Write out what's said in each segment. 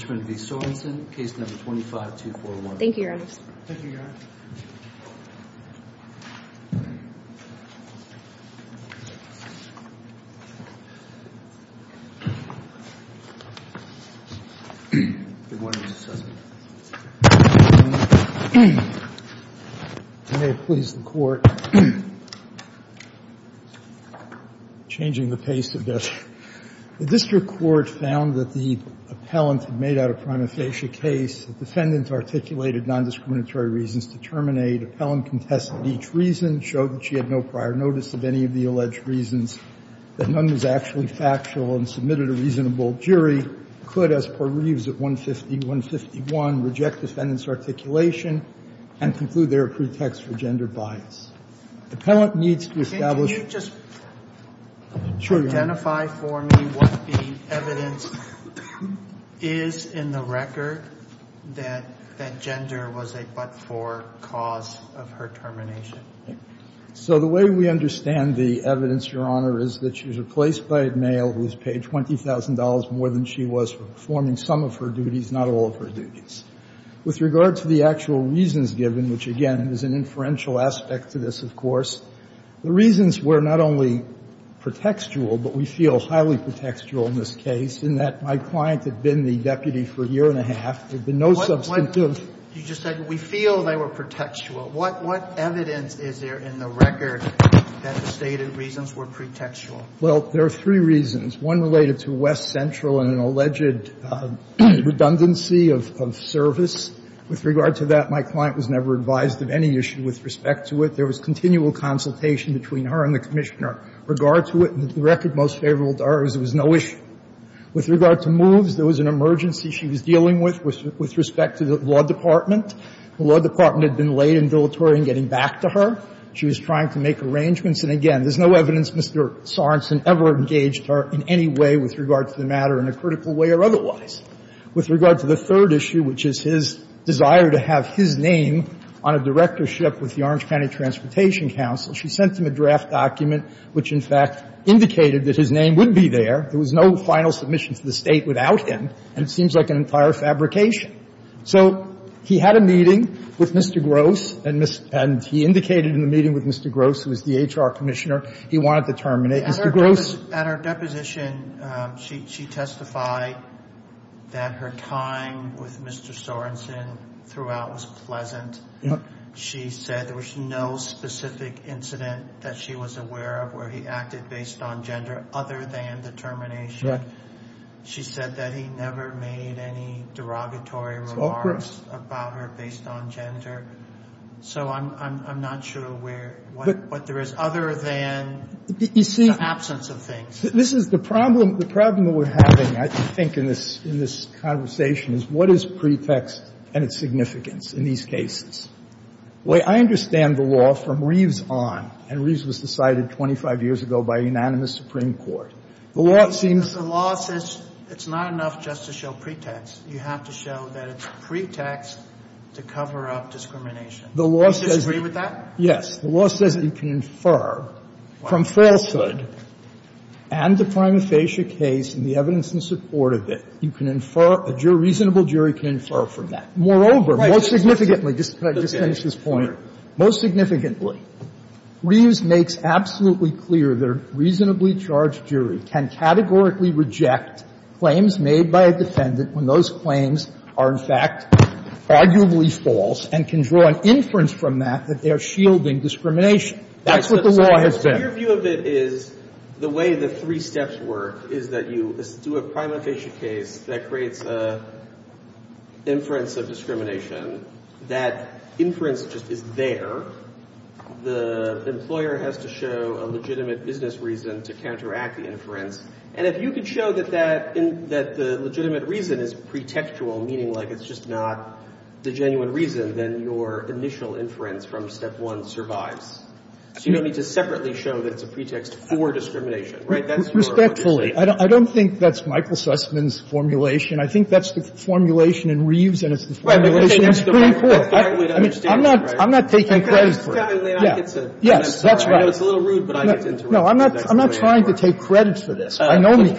v. Sorensen, Case No. 25-241. Thank you, Your Honor. Good morning, Mr. Sussman. May it please the Court. Changing the pace a bit. The district court found that the appellant had made out a prima facie case. The defendant articulated nondiscriminatory reasons to terminate. Appellant contested each reason, showed that she had no prior notice of any of the alleged reasons, that none was actually factual, and submitted a reasonable jury, could, as per Reeves at 150-151, reject defendant's articulation and conclude there are pretexts for gender bias. Appellant needs to establish. Can you just identify for me what the evidence is in the record that gender was a but-for cause of her termination? So the way we understand the evidence, Your Honor, is that she was replaced by a male who was paid $20,000 more than she was for performing some of her duties, not all of her duties. With regard to the actual reasons given, which, again, is an inferential aspect to this, of course, the reasons were not only pretextual, but we feel highly pretextual in this case, in that my client had been the deputy for a year and a half. There had been no substantive ---- What you just said, we feel they were pretextual. What evidence is there in the record that the stated reasons were pretextual? Well, there are three reasons. One related to West Central and an alleged redundancy of service. With regard to that, my client was never advised of any issue with respect to it. There was continual consultation between her and the Commissioner. With regard to it, the record most favorable to her is there was no issue. With regard to moves, there was an emergency she was dealing with, with respect to the law department. The law department had been late and dilatory in getting back to her. She was trying to make arrangements. And, again, there's no evidence Mr. Sorensen ever engaged her in any way with regard to the matter in a critical way or otherwise. With regard to the third issue, which is his desire to have his name on a directorship with the Orange County Transportation Council, she sent him a draft document which, in fact, indicated that his name would be there. There was no final submission to the State without him. And it seems like an entire fabrication. So he had a meeting with Mr. Gross, and he indicated in the meeting with Mr. Gross, who was the HR Commissioner, he wanted to terminate. Mr. Gross ---- At her deposition, she testified that her time with Mr. Sorensen throughout was pleasant. She said there was no specific incident that she was aware of where he acted based on gender other than the termination. She said that he never made any derogatory remarks about her based on gender. So I'm not sure where what there is other than the absence of things. This is the problem. The problem that we're having, I think, in this conversation is what is pretext and its significance in these cases? I understand the law from Reeves on, and Reeves was decided 25 years ago by a unanimous Supreme Court. The law seems to ---- The law says it's not enough just to show pretext. You have to show that it's a pretext to cover up discrimination. Do you disagree with that? Yes. The law says you can infer from falsehood and the prima facie case and the evidence in support of it, you can infer ---- a reasonable jury can infer from that. Moreover, most significantly ---- Right. Could I just finish this point? Most significantly, Reeves makes absolutely clear that a reasonably charged jury can categorically reject claims made by a defendant when those claims are, in fact, arguably false and can draw an inference from that that they are shielding discrimination. That's what the law has been. So your view of it is the way the three steps work is that you do a prima facie case that creates an inference of discrimination. That inference just is there. The employer has to show a legitimate business reason to counteract the inference. And if you can show that that legitimate reason is pretextual, meaning like it's just not the genuine reason, then your initial inference from step one survives. So you don't need to separately show that it's a pretext for discrimination. Right? That's your ---- Respectfully. I don't think that's Michael Sussman's formulation. I think that's the formulation in Reeves and it's the formulation in the Supreme I mean, I'm not ---- I'm not trying to take credit for this. I know me.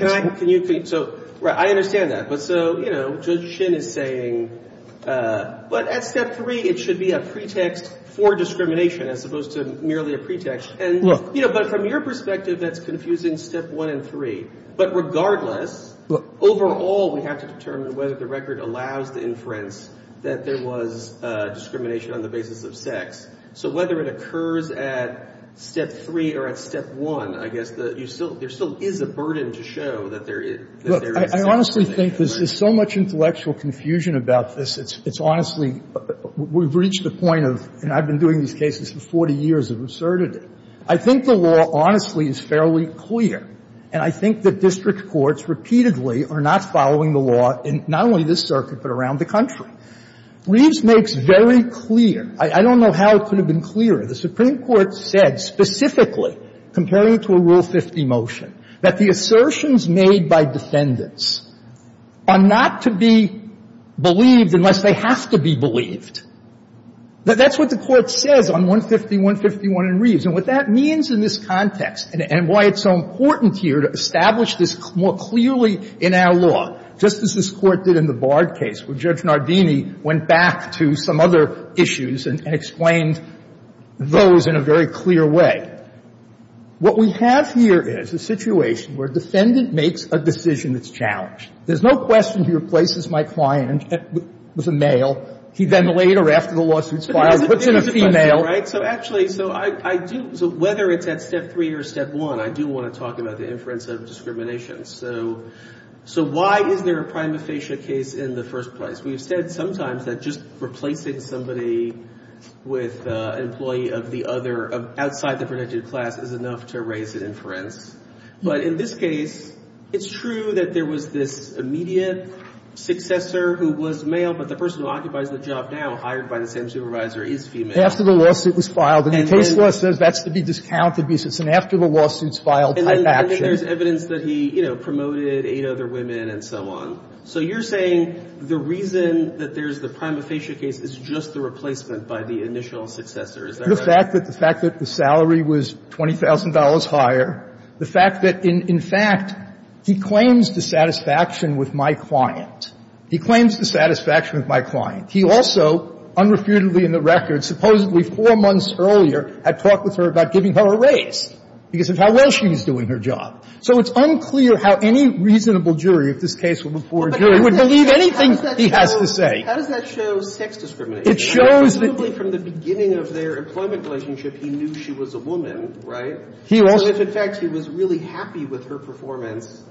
So I understand that. But so, you know, Judge Shin is saying, but at step three, it should be a pretext for discrimination as opposed to merely a pretext. And, you know, but from your perspective, that's confusing step one and three. But regardless, overall, we have to determine whether the record allows the inference that there was discrimination on the basis of sex. So whether it occurs at step three or at step one, I guess, you still ---- there still is a burden to show that there is ---- Look, I honestly think there's so much intellectual confusion about this, it's honestly ---- we've reached the point of, and I've been doing these cases for 40 years, of absurdity. I think the law, honestly, is fairly clear, and I think that district courts repeatedly are not following the law in not only this circuit, but around the country. Reeves makes very clear, I don't know how it could have been clearer, the Supreme Court said specifically, comparing it to a Rule 50 motion, that the assertions made by defendants are not to be believed unless they have to be believed. That's what the Court says on 150.151 in Reeves. And what that means in this context, and why it's so important here to establish this more clearly in our law, just as this Court did in the Bard case, where Judge Nardini went back to some other issues and explained those in a very clear way. What we have here is a situation where a defendant makes a decision that's challenged. There's no question he replaces my client with a male. He then later, after the lawsuit's filed, puts in a female. So actually, so I do ---- so whether it's at step three or step one, I do want to talk about the inference of discrimination. So why is there a prima facie case in the first place? We've said sometimes that just replacing somebody with an employee of the other outside the predicted class is enough to raise an inference. But in this case, it's true that there was this immediate successor who was male, but the person who occupies the job now, hired by the same supervisor, is female. After the lawsuit was filed, and the case law says that's to be discounted because it's an after-the-lawsuit's-filed type action. And then there's evidence that he, you know, promoted eight other women and so on. So you're saying the reason that there's the prima facie case is just the replacement by the initial successor. Is that right? The fact that the salary was $20,000 higher, the fact that in fact, he claims dissatisfaction with my client. He claims dissatisfaction with my client. He also unrefutedly in the record, supposedly four months earlier, had talked with her about giving her a raise because of how well she was doing her job. So it's unclear how any reasonable jury, if this case were before a jury, would believe anything he has to say. How does that show sex discrimination? It shows that he was a woman, right? So if in fact he was really happy with her performance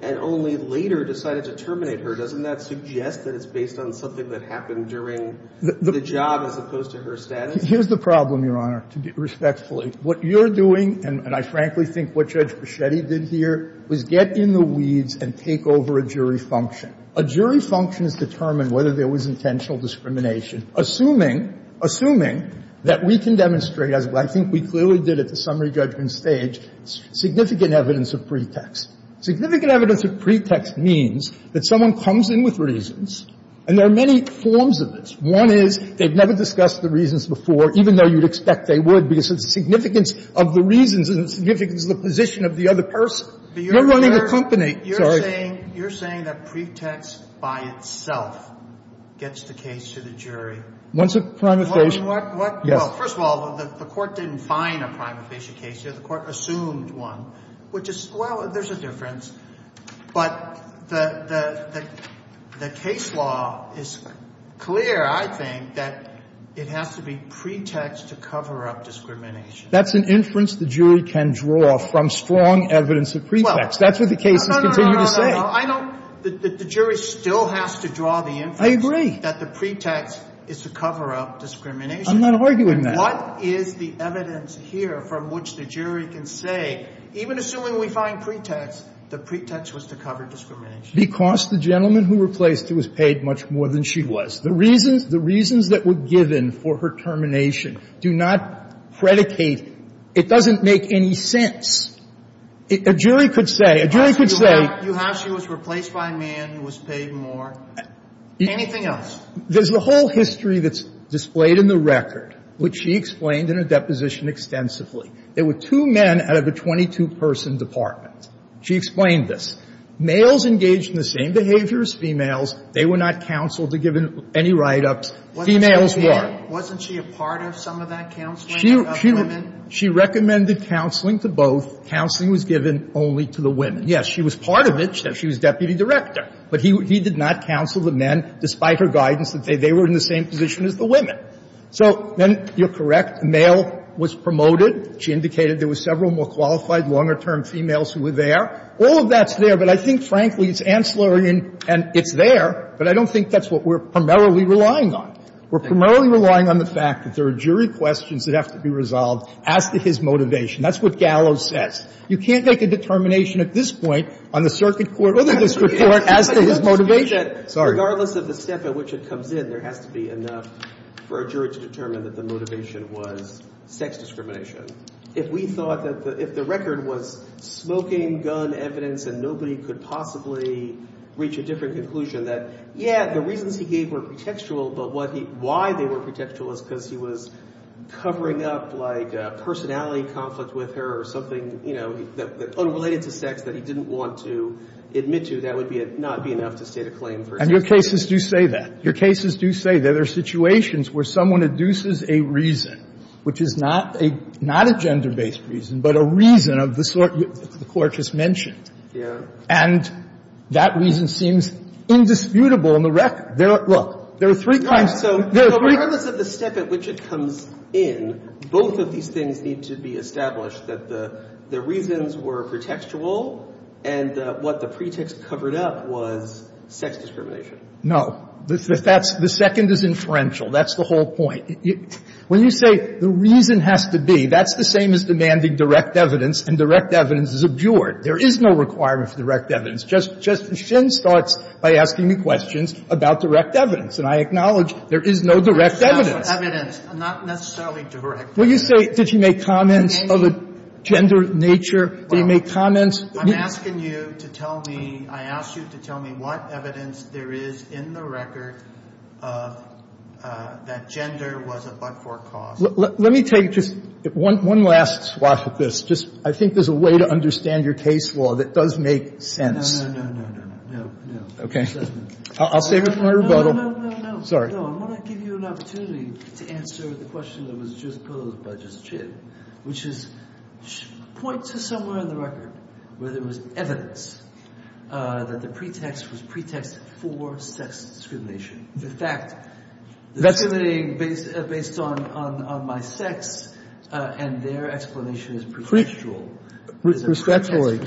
and only later decided to terminate her, doesn't that suggest that it's based on something that happened during the job as opposed to her status? Here's the problem, Your Honor, respectfully. What you're doing, and I frankly think what Judge Creschetti did here, was get in the weeds and take over a jury function. A jury function is to determine whether there was intentional discrimination. Assuming, assuming that we can demonstrate, as I think we clearly did at the summary judgment stage, significant evidence of pretext. And so pretext means that someone comes in with reasons, and there are many forms of this. One is they've never discussed the reasons before, even though you'd expect they would, because of the significance of the reasons and the significance of the position of the other person. You're running the company. I'm sorry. You're saying, you're saying that pretext by itself gets the case to the jury? Once a prima facie. Yes. Well, first of all, the court didn't find a prima facie case here. The court assumed one, which is, well, there's a difference. But the case law is clear, I think, that it has to be pretext to cover up discrimination. That's an inference the jury can draw from strong evidence of pretext. That's what the case has continued to say. No, no, no, no, no, I don't, the jury still has to draw the inference. I agree. That the pretext is to cover up discrimination. I'm not arguing that. What is the evidence here from which the jury can say, even assuming we find pretext, the pretext was to cover discrimination? Because the gentleman who replaced her was paid much more than she was. The reasons, the reasons that were given for her termination do not predicate, it doesn't make any sense. A jury could say, a jury could say. You have, she was replaced by a man who was paid more, anything else? There's a whole history that's displayed in the record, which she explained in her deposition extensively. There were two men out of a 22-person department. She explained this. Males engaged in the same behavior as females. They were not counseled to give any write-ups. Females were. Wasn't she a part of some of that counseling of women? She recommended counseling to both. Counseling was given only to the women. Yes, she was part of it. She was deputy director. But he did not counsel the men, despite her guidance, that they were in the same position as the women. So then you're correct. The male was promoted. She indicated there were several more qualified, longer-term females who were there. All of that's there, but I think, frankly, it's ancillary and it's there, but I don't think that's what we're primarily relying on. We're primarily relying on the fact that there are jury questions that have to be resolved as to his motivation. That's what Gallo says. You can't make a determination at this point on the circuit court or the district court as to his motivation. Sorry. Regardless of the step at which it comes in, there has to be enough for a jury to determine that the motivation was sex discrimination. If we thought that if the record was smoking gun evidence and nobody could possibly reach a different conclusion that, yeah, the reasons he gave were pretextual, but why they were pretextual is because he was covering up, like, a personality conflict with her or something, you know, unrelated to sex that he didn't want to admit to, that would not be enough to state a claim for sex discrimination. And your cases do say that. Your cases do say that. There are situations where someone induces a reason, which is not a gender-based reason, but a reason of the sort the Court just mentioned. And that reason seems indisputable in the record. Look, there are three kinds of reasons. Regardless of the step at which it comes in, both of these things need to be established, that the reasons were pretextual and that what the pretext covered up was sex discrimination. No. The second is inferential. That's the whole point. When you say the reason has to be, that's the same as demanding direct evidence, and direct evidence is abjured. There is no requirement for direct evidence. Justice Shin starts by asking me questions about direct evidence, and I acknowledge there is no direct evidence. That's not evidence. Not necessarily direct evidence. When you say, did you make comments of a gender nature, did you make comments? I'm asking you to tell me, I asked you to tell me what evidence there is in the record of that gender was a but-for cause. Let me take just one last swath of this. Just, I think there's a way to understand your case law that does make sense. No, no, no, no, no, no, no. Okay. I'll save it for rebuttal. No, no, no, no, no. Sorry. No, I want to give you an opportunity to answer the question that was just posed by Justice Shin, which is, point to somewhere in the record where there was evidence that the pretext was pretext for sex discrimination. The fact, that's based on my sex, and their explanation is pretextual. Respectfully,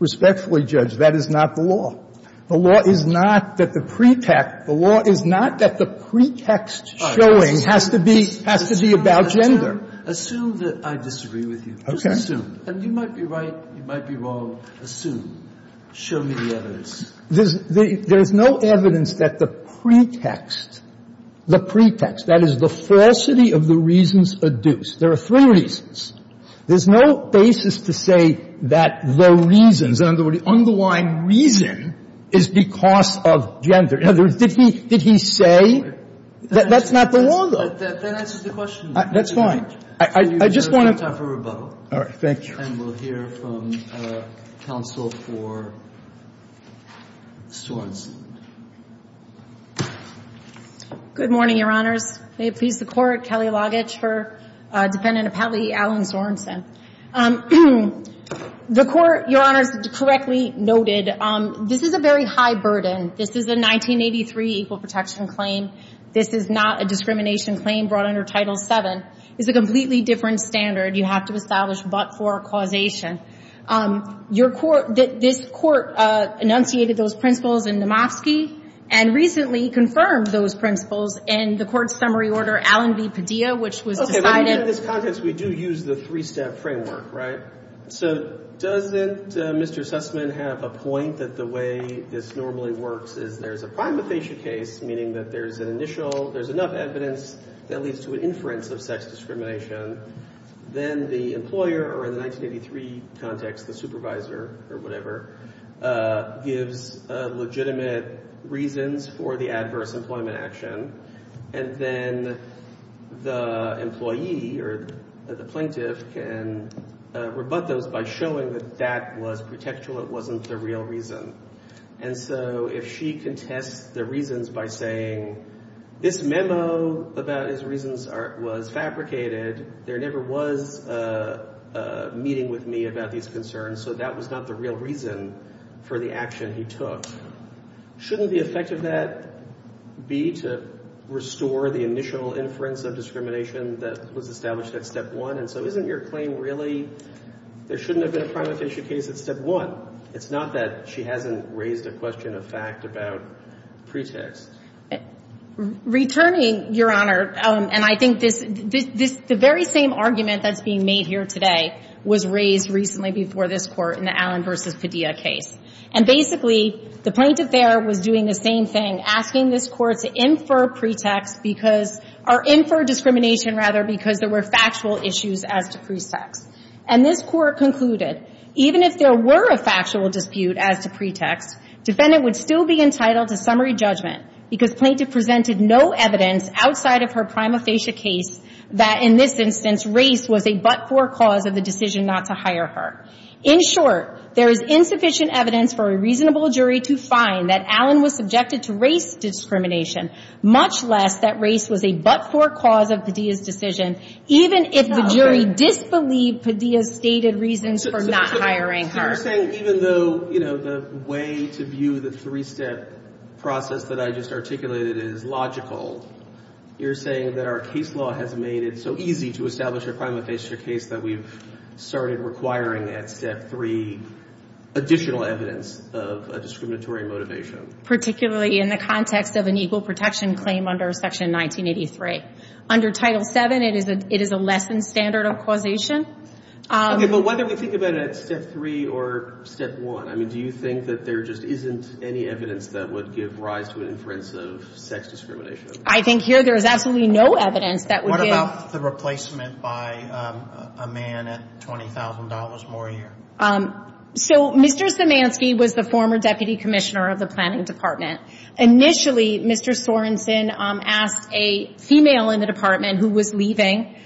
respectfully, Judge, that is not the law. The law is not that the pretext, the law is not that the pretext showing has to be, has to be about gender. Assume that I disagree with you. Okay. Just assume. And you might be right, you might be wrong. Assume. Show me the evidence. There's no evidence that the pretext, the pretext, that is the falsity of the reasons adduced. There are three reasons. There's no basis to say that the reasons, the underlying reason is because of gender. In other words, did he, did he say that that's not the law, though? Then answer the question. That's fine. I just want to. You have time for rebuttal. All right. Thank you. And we'll hear from counsel for Swanson. Good morning, Your Honors. May it please the Court, Kelly Logich for Dependent Appellee Alan Sorensen. The Court, Your Honors, correctly noted, this is a very high burden. This is a 1983 equal protection claim. This is not a discrimination claim brought under Title VII. It's a completely different standard you have to establish but for causation. Your Court, this Court enunciated those principles in Namofsky and recently confirmed those principles in the Court's summary order, Allen v. Padilla, which was decided. Okay, but in this context, we do use the three-step framework, right? So, doesn't Mr. Sussman have a point that the way this normally works is there's a primatization case, meaning that there's an initial, there's enough evidence that leads to an inference of sex discrimination. Then the employer, or in the 1983 context, the supervisor, or whatever, gives legitimate reasons for the adverse employment action. And then the employee, or the plaintiff, can rebut those by showing that that was pretextual, it wasn't the real reason. And so, if she contests the reasons by saying, this memo about his reasons was fabricated, there never was a meeting with me about these concerns, so that was not the real reason for the action he took. Shouldn't the effect of that be to restore the initial inference of discrimination that was established at step one? And so, isn't your claim really there shouldn't have been a primatization case at step one? It's not that she hasn't raised a question of fact about pretext. Returning, Your Honor, and I think this, the very same argument that's being made here today was raised recently before this Court in the Allen v. Padilla case. And basically, the plaintiff there was doing the same thing, asking this Court to infer pretext because, or infer discrimination, rather, because there were factual issues as to pretext. And this Court concluded, even if there were a factual dispute as to pretext, defendant would still be entitled to summary judgment because plaintiff presented no evidence outside of her prima facie case that, in this instance, race was a but-for cause of the decision not to hire her. In short, there is insufficient evidence for a reasonable jury to find that Allen was subjected to race discrimination, much less that race was a but-for cause of Padilla's decision, even if the jury disbelieved Padilla's stated reasons for not hiring her. Even though, you know, the way to view the three-step process that I just articulated is logical, you're saying that our case law has made it so easy to establish a prima facie case that we've started requiring at step three additional evidence of a discriminatory motivation. Particularly in the context of an equal protection claim under Section 1983. Under Title VII, it is a less than standard of causation. Okay, but whether we think about it at step three or step one, I mean, do you think that there just isn't any evidence that would give rise to an inference of sex discrimination? I think here there is absolutely no evidence that would give... What about the replacement by a man at $20,000 more a year? So, Mr. Zemanski was the former Deputy Commissioner of the Planning Department. Initially, Mr. Sorenson asked a female in the department who was leaving,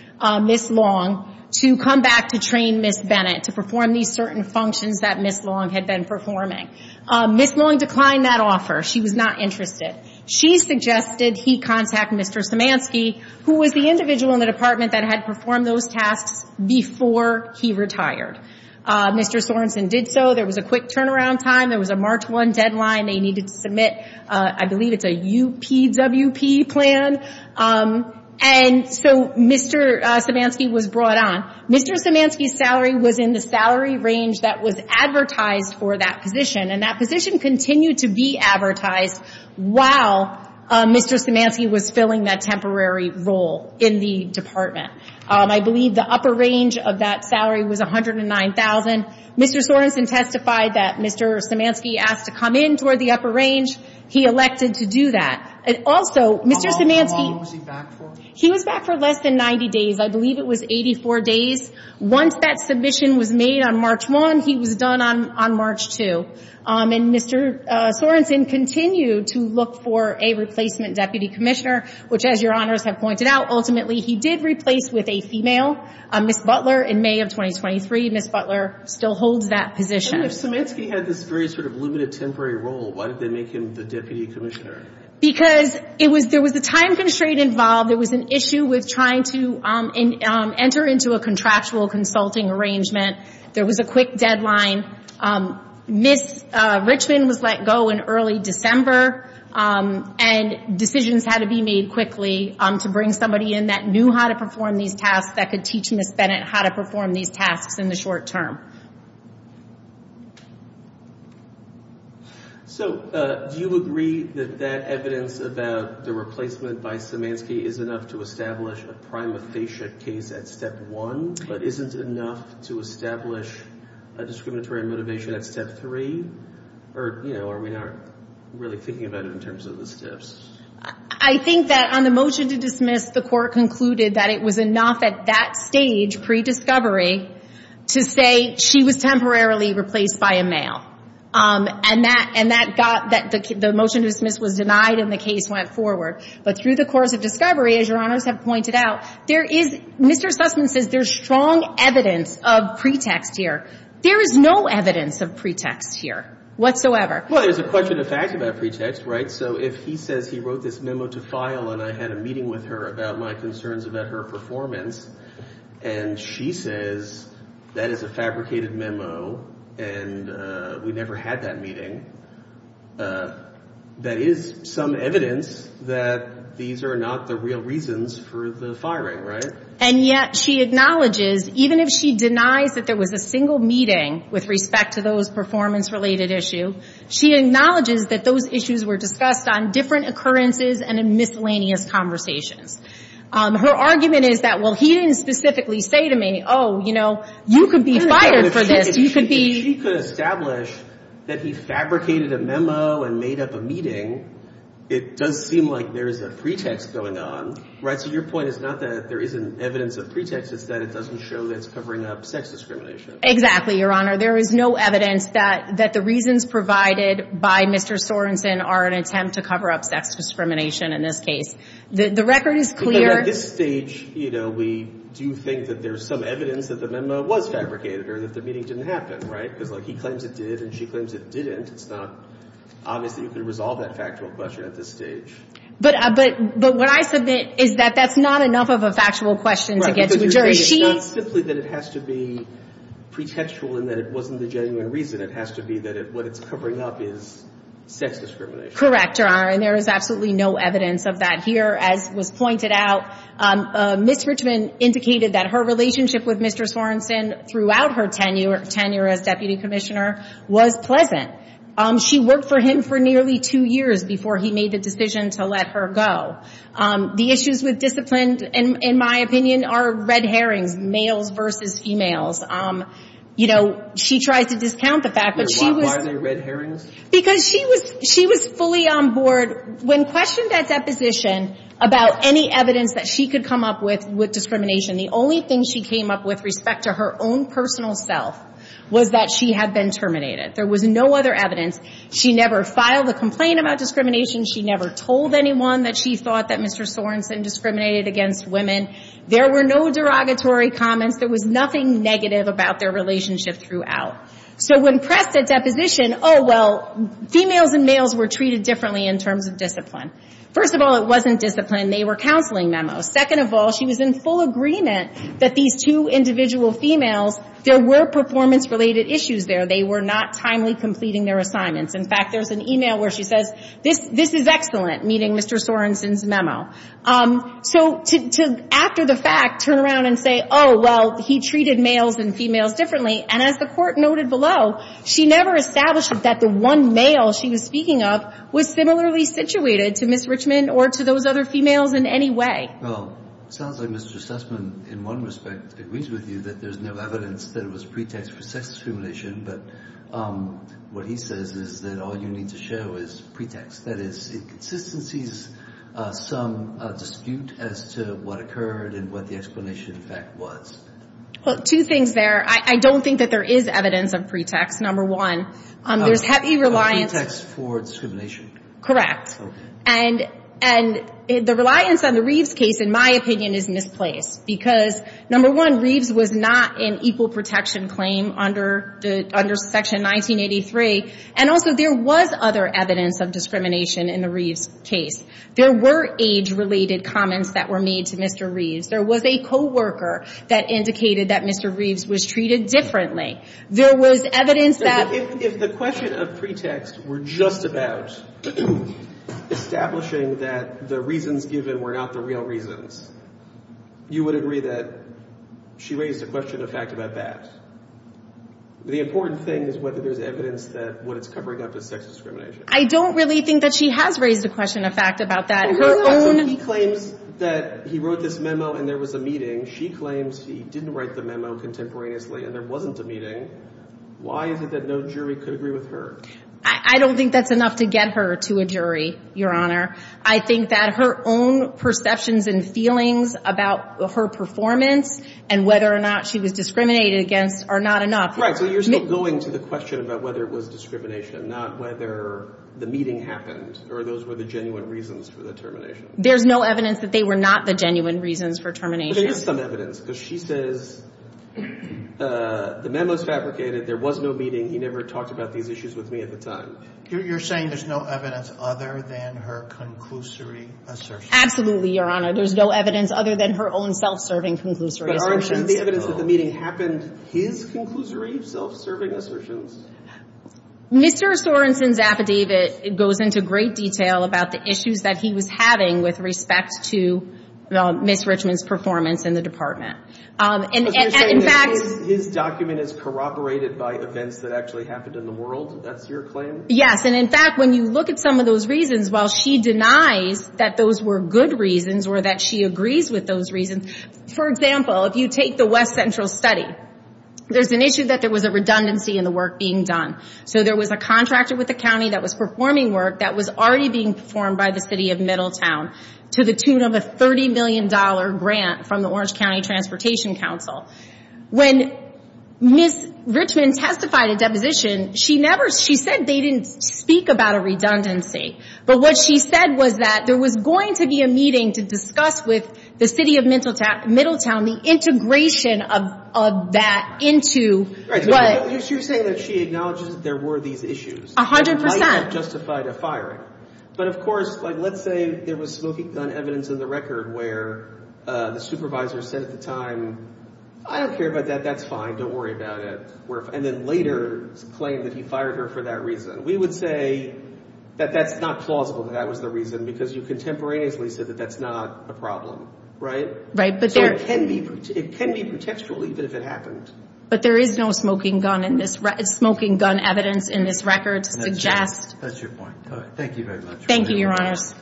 Ms. Long, to come back to train Ms. Bennett, to perform these certain functions that Ms. Long had been performing. Ms. Long declined that offer. She was not interested. She suggested he contact Mr. Zemanski, who was the individual in the department that had performed those tasks before he retired. Mr. Sorenson did so. There was a quick turnaround time. There was a March 1 deadline. They needed to submit, I believe it's a UPWP plan. And so, Mr. Zemanski was brought on. Mr. Zemanski's salary was in the salary range that was advertised for that position. And that position continued to be advertised while Mr. Zemanski was filling that temporary role in the department. I believe the upper range of that salary was $109,000. Mr. Sorenson testified that Mr. Zemanski asked to come in toward the upper range. He elected to do that. Also, Mr. Zemanski... How long was he back for? He was back for less than 90 days. I believe it was 84 days. Once that submission was made on March 1, he was done on March 2. And Mr. Sorenson continued to look for a replacement deputy commissioner, which, as your honors have pointed out, ultimately he did replace with a female, Ms. Butler, in May of 2023. Ms. Butler still holds that position. If Zemanski had this very sort of limited temporary role, why did they make him the deputy commissioner? Because there was a time constraint involved. There was an issue with trying to enter into a contractual consulting arrangement. There was a quick deadline. Ms. Richmond was let go in early December, and decisions had to be made quickly to bring somebody in that knew how to perform these tasks, that could teach Ms. Bennett how to perform these tasks in the short term. So, do you agree that that evidence about the replacement by Zemanski is enough to establish a prima facie case at step one, but isn't enough to establish a discriminatory motivation at step three? Or, you know, are we not really thinking about it in terms of the steps? I think that on the motion to dismiss, the court concluded that it was enough at that stage, pre-discovery, to say she was temporarily replaced by a male. And that got, the motion to dismiss was denied and the case went forward. But through the course of discovery, as your honors have pointed out, there is, Mr. Sussman says there's strong evidence of pretext here. There is no evidence of pretext here, whatsoever. Well, there's a question of fact about pretext, right? So, if he says he wrote this memo to file, and I had a meeting with her about my concerns about her performance, and she says that is a fabricated memo, and we never had that meeting, that is some evidence that these are not the real reasons for the firing, right? And yet, she acknowledges, even if she denies that there was a single meeting with respect to those performance-related issue, she acknowledges that those issues were discussed on different occurrences and in miscellaneous conversations. Her argument is that, well, he didn't specifically say to me, oh, you know, you could be fired for this, you could be... If she could establish that he fabricated a memo and made up a meeting, it does seem like there is a pretext going on, right? So, your point is not that there isn't evidence of pretext, it's that it doesn't show that it's covering up sex discrimination. Exactly, your honor. There is no evidence that the reasons provided by Mr. Sorensen are an attempt to cover up sex discrimination in this case. The record is clear... But at this stage, you know, we do think that there's some evidence that the memo was fabricated or that the meeting didn't happen, right? Because, like, he claims it did and she claims it didn't. It's not obvious that you can resolve that factual question at this stage. But what I submit is that that's not enough of a factual question to get to a jury. It's not simply that it has to be pretextual and that it wasn't the genuine reason. It has to be that what it's covering up is sex discrimination. Correct, your honor, and there is absolutely no evidence of that. As was pointed out, Ms. Richman indicated that her relationship with Mr. Sorensen throughout her tenure as deputy commissioner was pleasant. She worked for him for nearly two years before he made the decision to let her go. The issues with discipline, in my opinion, are red herrings, males versus females. You know, she tries to discount the fact that she was... Why are they red herrings? Because she was fully on board when questioned at deposition about any evidence that she could come up with with discrimination. The only thing she came up with respect to her own personal self was that she had been terminated. There was no other evidence. She never filed a complaint about discrimination. She never told anyone that she thought that Mr. Sorensen discriminated against women. There were no derogatory comments. There was nothing negative about their relationship throughout. So when pressed at deposition, oh, well, females and males were treated differently in terms of discipline. First of all, it wasn't discipline. They were counseling memos. Second of all, she was in full agreement that these two individual females, there were performance-related issues there. They were not timely completing their assignments. In fact, there's an email where she says, this is excellent, meeting Mr. Sorensen's memo. So to, after the fact, turn around and say, oh, well, he treated males and females differently. And as the court noted below, she never established that the one male she was speaking of was similarly situated to Ms. Richman or to those other females in any way. Well, sounds like Mr. Sussman, in one respect, agrees with you that there's no evidence that it was pretext for sex discrimination. But what he says is that all you need to show is pretext. That is, inconsistencies, some dispute as to what occurred and what the explanation, in fact, was. Well, two things there. I don't think that there is evidence of pretext, number one. There's heavy reliance... Pretext for discrimination. Correct. And the reliance on the Reeves case, in my opinion, is misplaced. Because, number one, Reeves was not an equal protection claim under Section 1983. And also, there was other evidence of discrimination in the Reeves case. There were age-related comments that were made to Mr. Reeves. There was a co-worker that indicated that Mr. Reeves was treated differently. There was evidence that... If the question of pretext were just about establishing that the reasons given were not the real reasons, you would agree that she raised a question of fact about that. The important thing is whether there's evidence that what it's covering up is sex discrimination. I don't really think that she has raised a question of fact about that. He claims that he wrote this memo and there was a meeting. She claims he didn't write the memo contemporaneously and there wasn't a meeting. Why is it that no jury could agree with her? I don't think that's enough to get her to a jury, Your Honor. I think that her own perceptions and feelings about her performance and whether or not she was discriminated against are not enough. Right. So you're still going to the question about whether it was discrimination, not whether the meeting happened, or those were the genuine reasons for the termination? There's no evidence that they were not the genuine reasons for termination. But there is some evidence because she says, the memo's fabricated, there was no meeting, he never talked about these issues with me at the time. You're saying there's no evidence other than her conclusory assertion? Absolutely, Your Honor. There's no evidence other than her own self-serving conclusory assertion. But aren't you saying the evidence at the meeting happened his conclusory self-serving assertions? Mr. Sorensen's affidavit goes into great detail about the issues that he was having with respect to Ms. Richmond's performance in the department. So you're saying that his document is corroborated by events that actually happened in the world? That's your claim? Yes. And in fact, when you look at some of those reasons, while she denies that those were good reasons or that she agrees with those reasons, for example, if you take the West Central study, there's an issue that there was a redundancy in the work being done. So there was a contractor with the county that was performing work that was already being performed by the city of Middletown to the tune of a $30 million grant from the Orange County Transportation Council. When Ms. Richmond testified at deposition, she said they didn't speak about a redundancy. But what she said was that there was going to be a meeting to discuss with the city of Middletown the integration of that into what... You're saying that she acknowledges that there were these issues. A hundred percent. That might have justified a firing. But of course, let's say there was smoking gun evidence in the record where the supervisor said at the time, I don't care about that, that's fine, don't worry about it. And then later claimed that he fired her for that reason. We would say that that's not plausible that that was the reason because you contemporaneously said that that's not a problem, right? Right. So it can be pretextual even if it happened. But there is no smoking gun evidence in this record to suggest... That's your point. All right. Thank you very much. Thank you, Your Honors.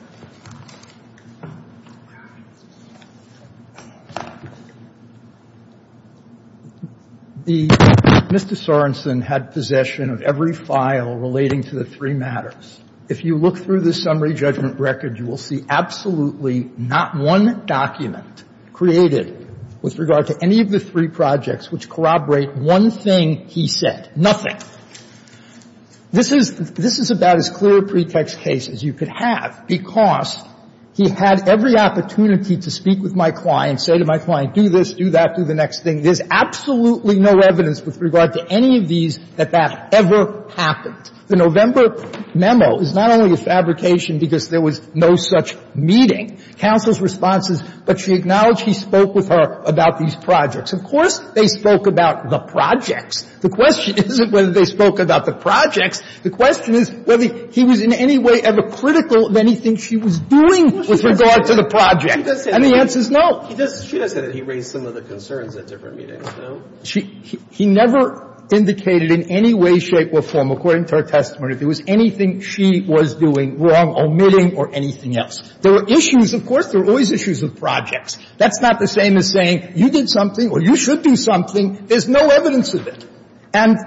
Mr. Sorensen had possession of every file relating to the three matters. If you look through the summary judgment record, you will see absolutely not one document created with regard to any of the three projects which corroborate one thing he said. Nothing. This is about as clear a pretext case as you could have because he had every opportunity to speak with my client, say to my client, do this, do that, do the next thing. There's absolutely no evidence with regard to any of these that that ever happened. The November memo is not only a fabrication because there was no such meeting. Counsel's response is, but she acknowledged he spoke with her about these projects. Of course they spoke about the projects. The question isn't whether they spoke about the projects. The question is whether he was in any way ever critical of anything she was doing with regard to the project. And the answer is no. He does say that he raised some of the concerns at different meetings, no? He never indicated in any way, shape, or form, according to her testimony, if there was anything she was doing wrong, omitting, or anything else. There were issues, of course, there were always issues of projects. That's not the same as saying you did something or you should do something. There's no evidence of it. And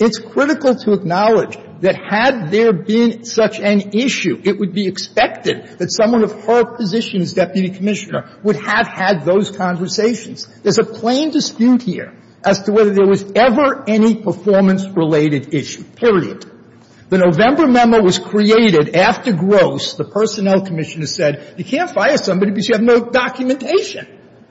it's critical to acknowledge that had there been such an issue, it would be expected that someone of her position as deputy commissioner would have had those conversations. There's a plain dispute here as to whether there was ever any performance-related issue, period. The November memo was created after Gross, the personnel commissioner, said, you can't fire somebody because you have no documentation.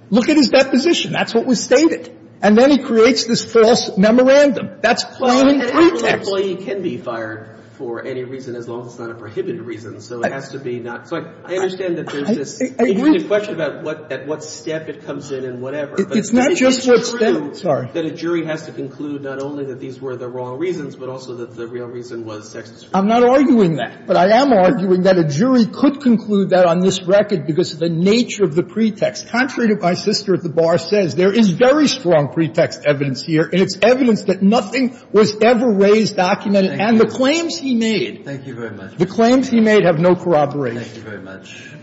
Look at his deposition. That's what was stated. And then he creates this false memorandum. That's plain pretext. But an employee can be fired for any reason as long as it's not a prohibited reason, so it has to be not so. I understand that there's this question about at what step it comes in and whatever But it's true that a jury has to conclude not only that these were the wrong reasons, but also that the real reason was sexist. I'm not arguing that, but I am arguing that a jury could conclude that on this record because of the nature of the pretext. Contrary to what my sister at the bar says, there is very strong pretext evidence here, and it's evidence that nothing was ever raised, documented, and the claims he made. Thank you very much. The claims he made have no corroboration. Thank you very much.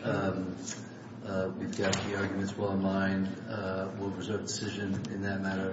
We've got the arguments well in line. We'll preserve the decision in that matter.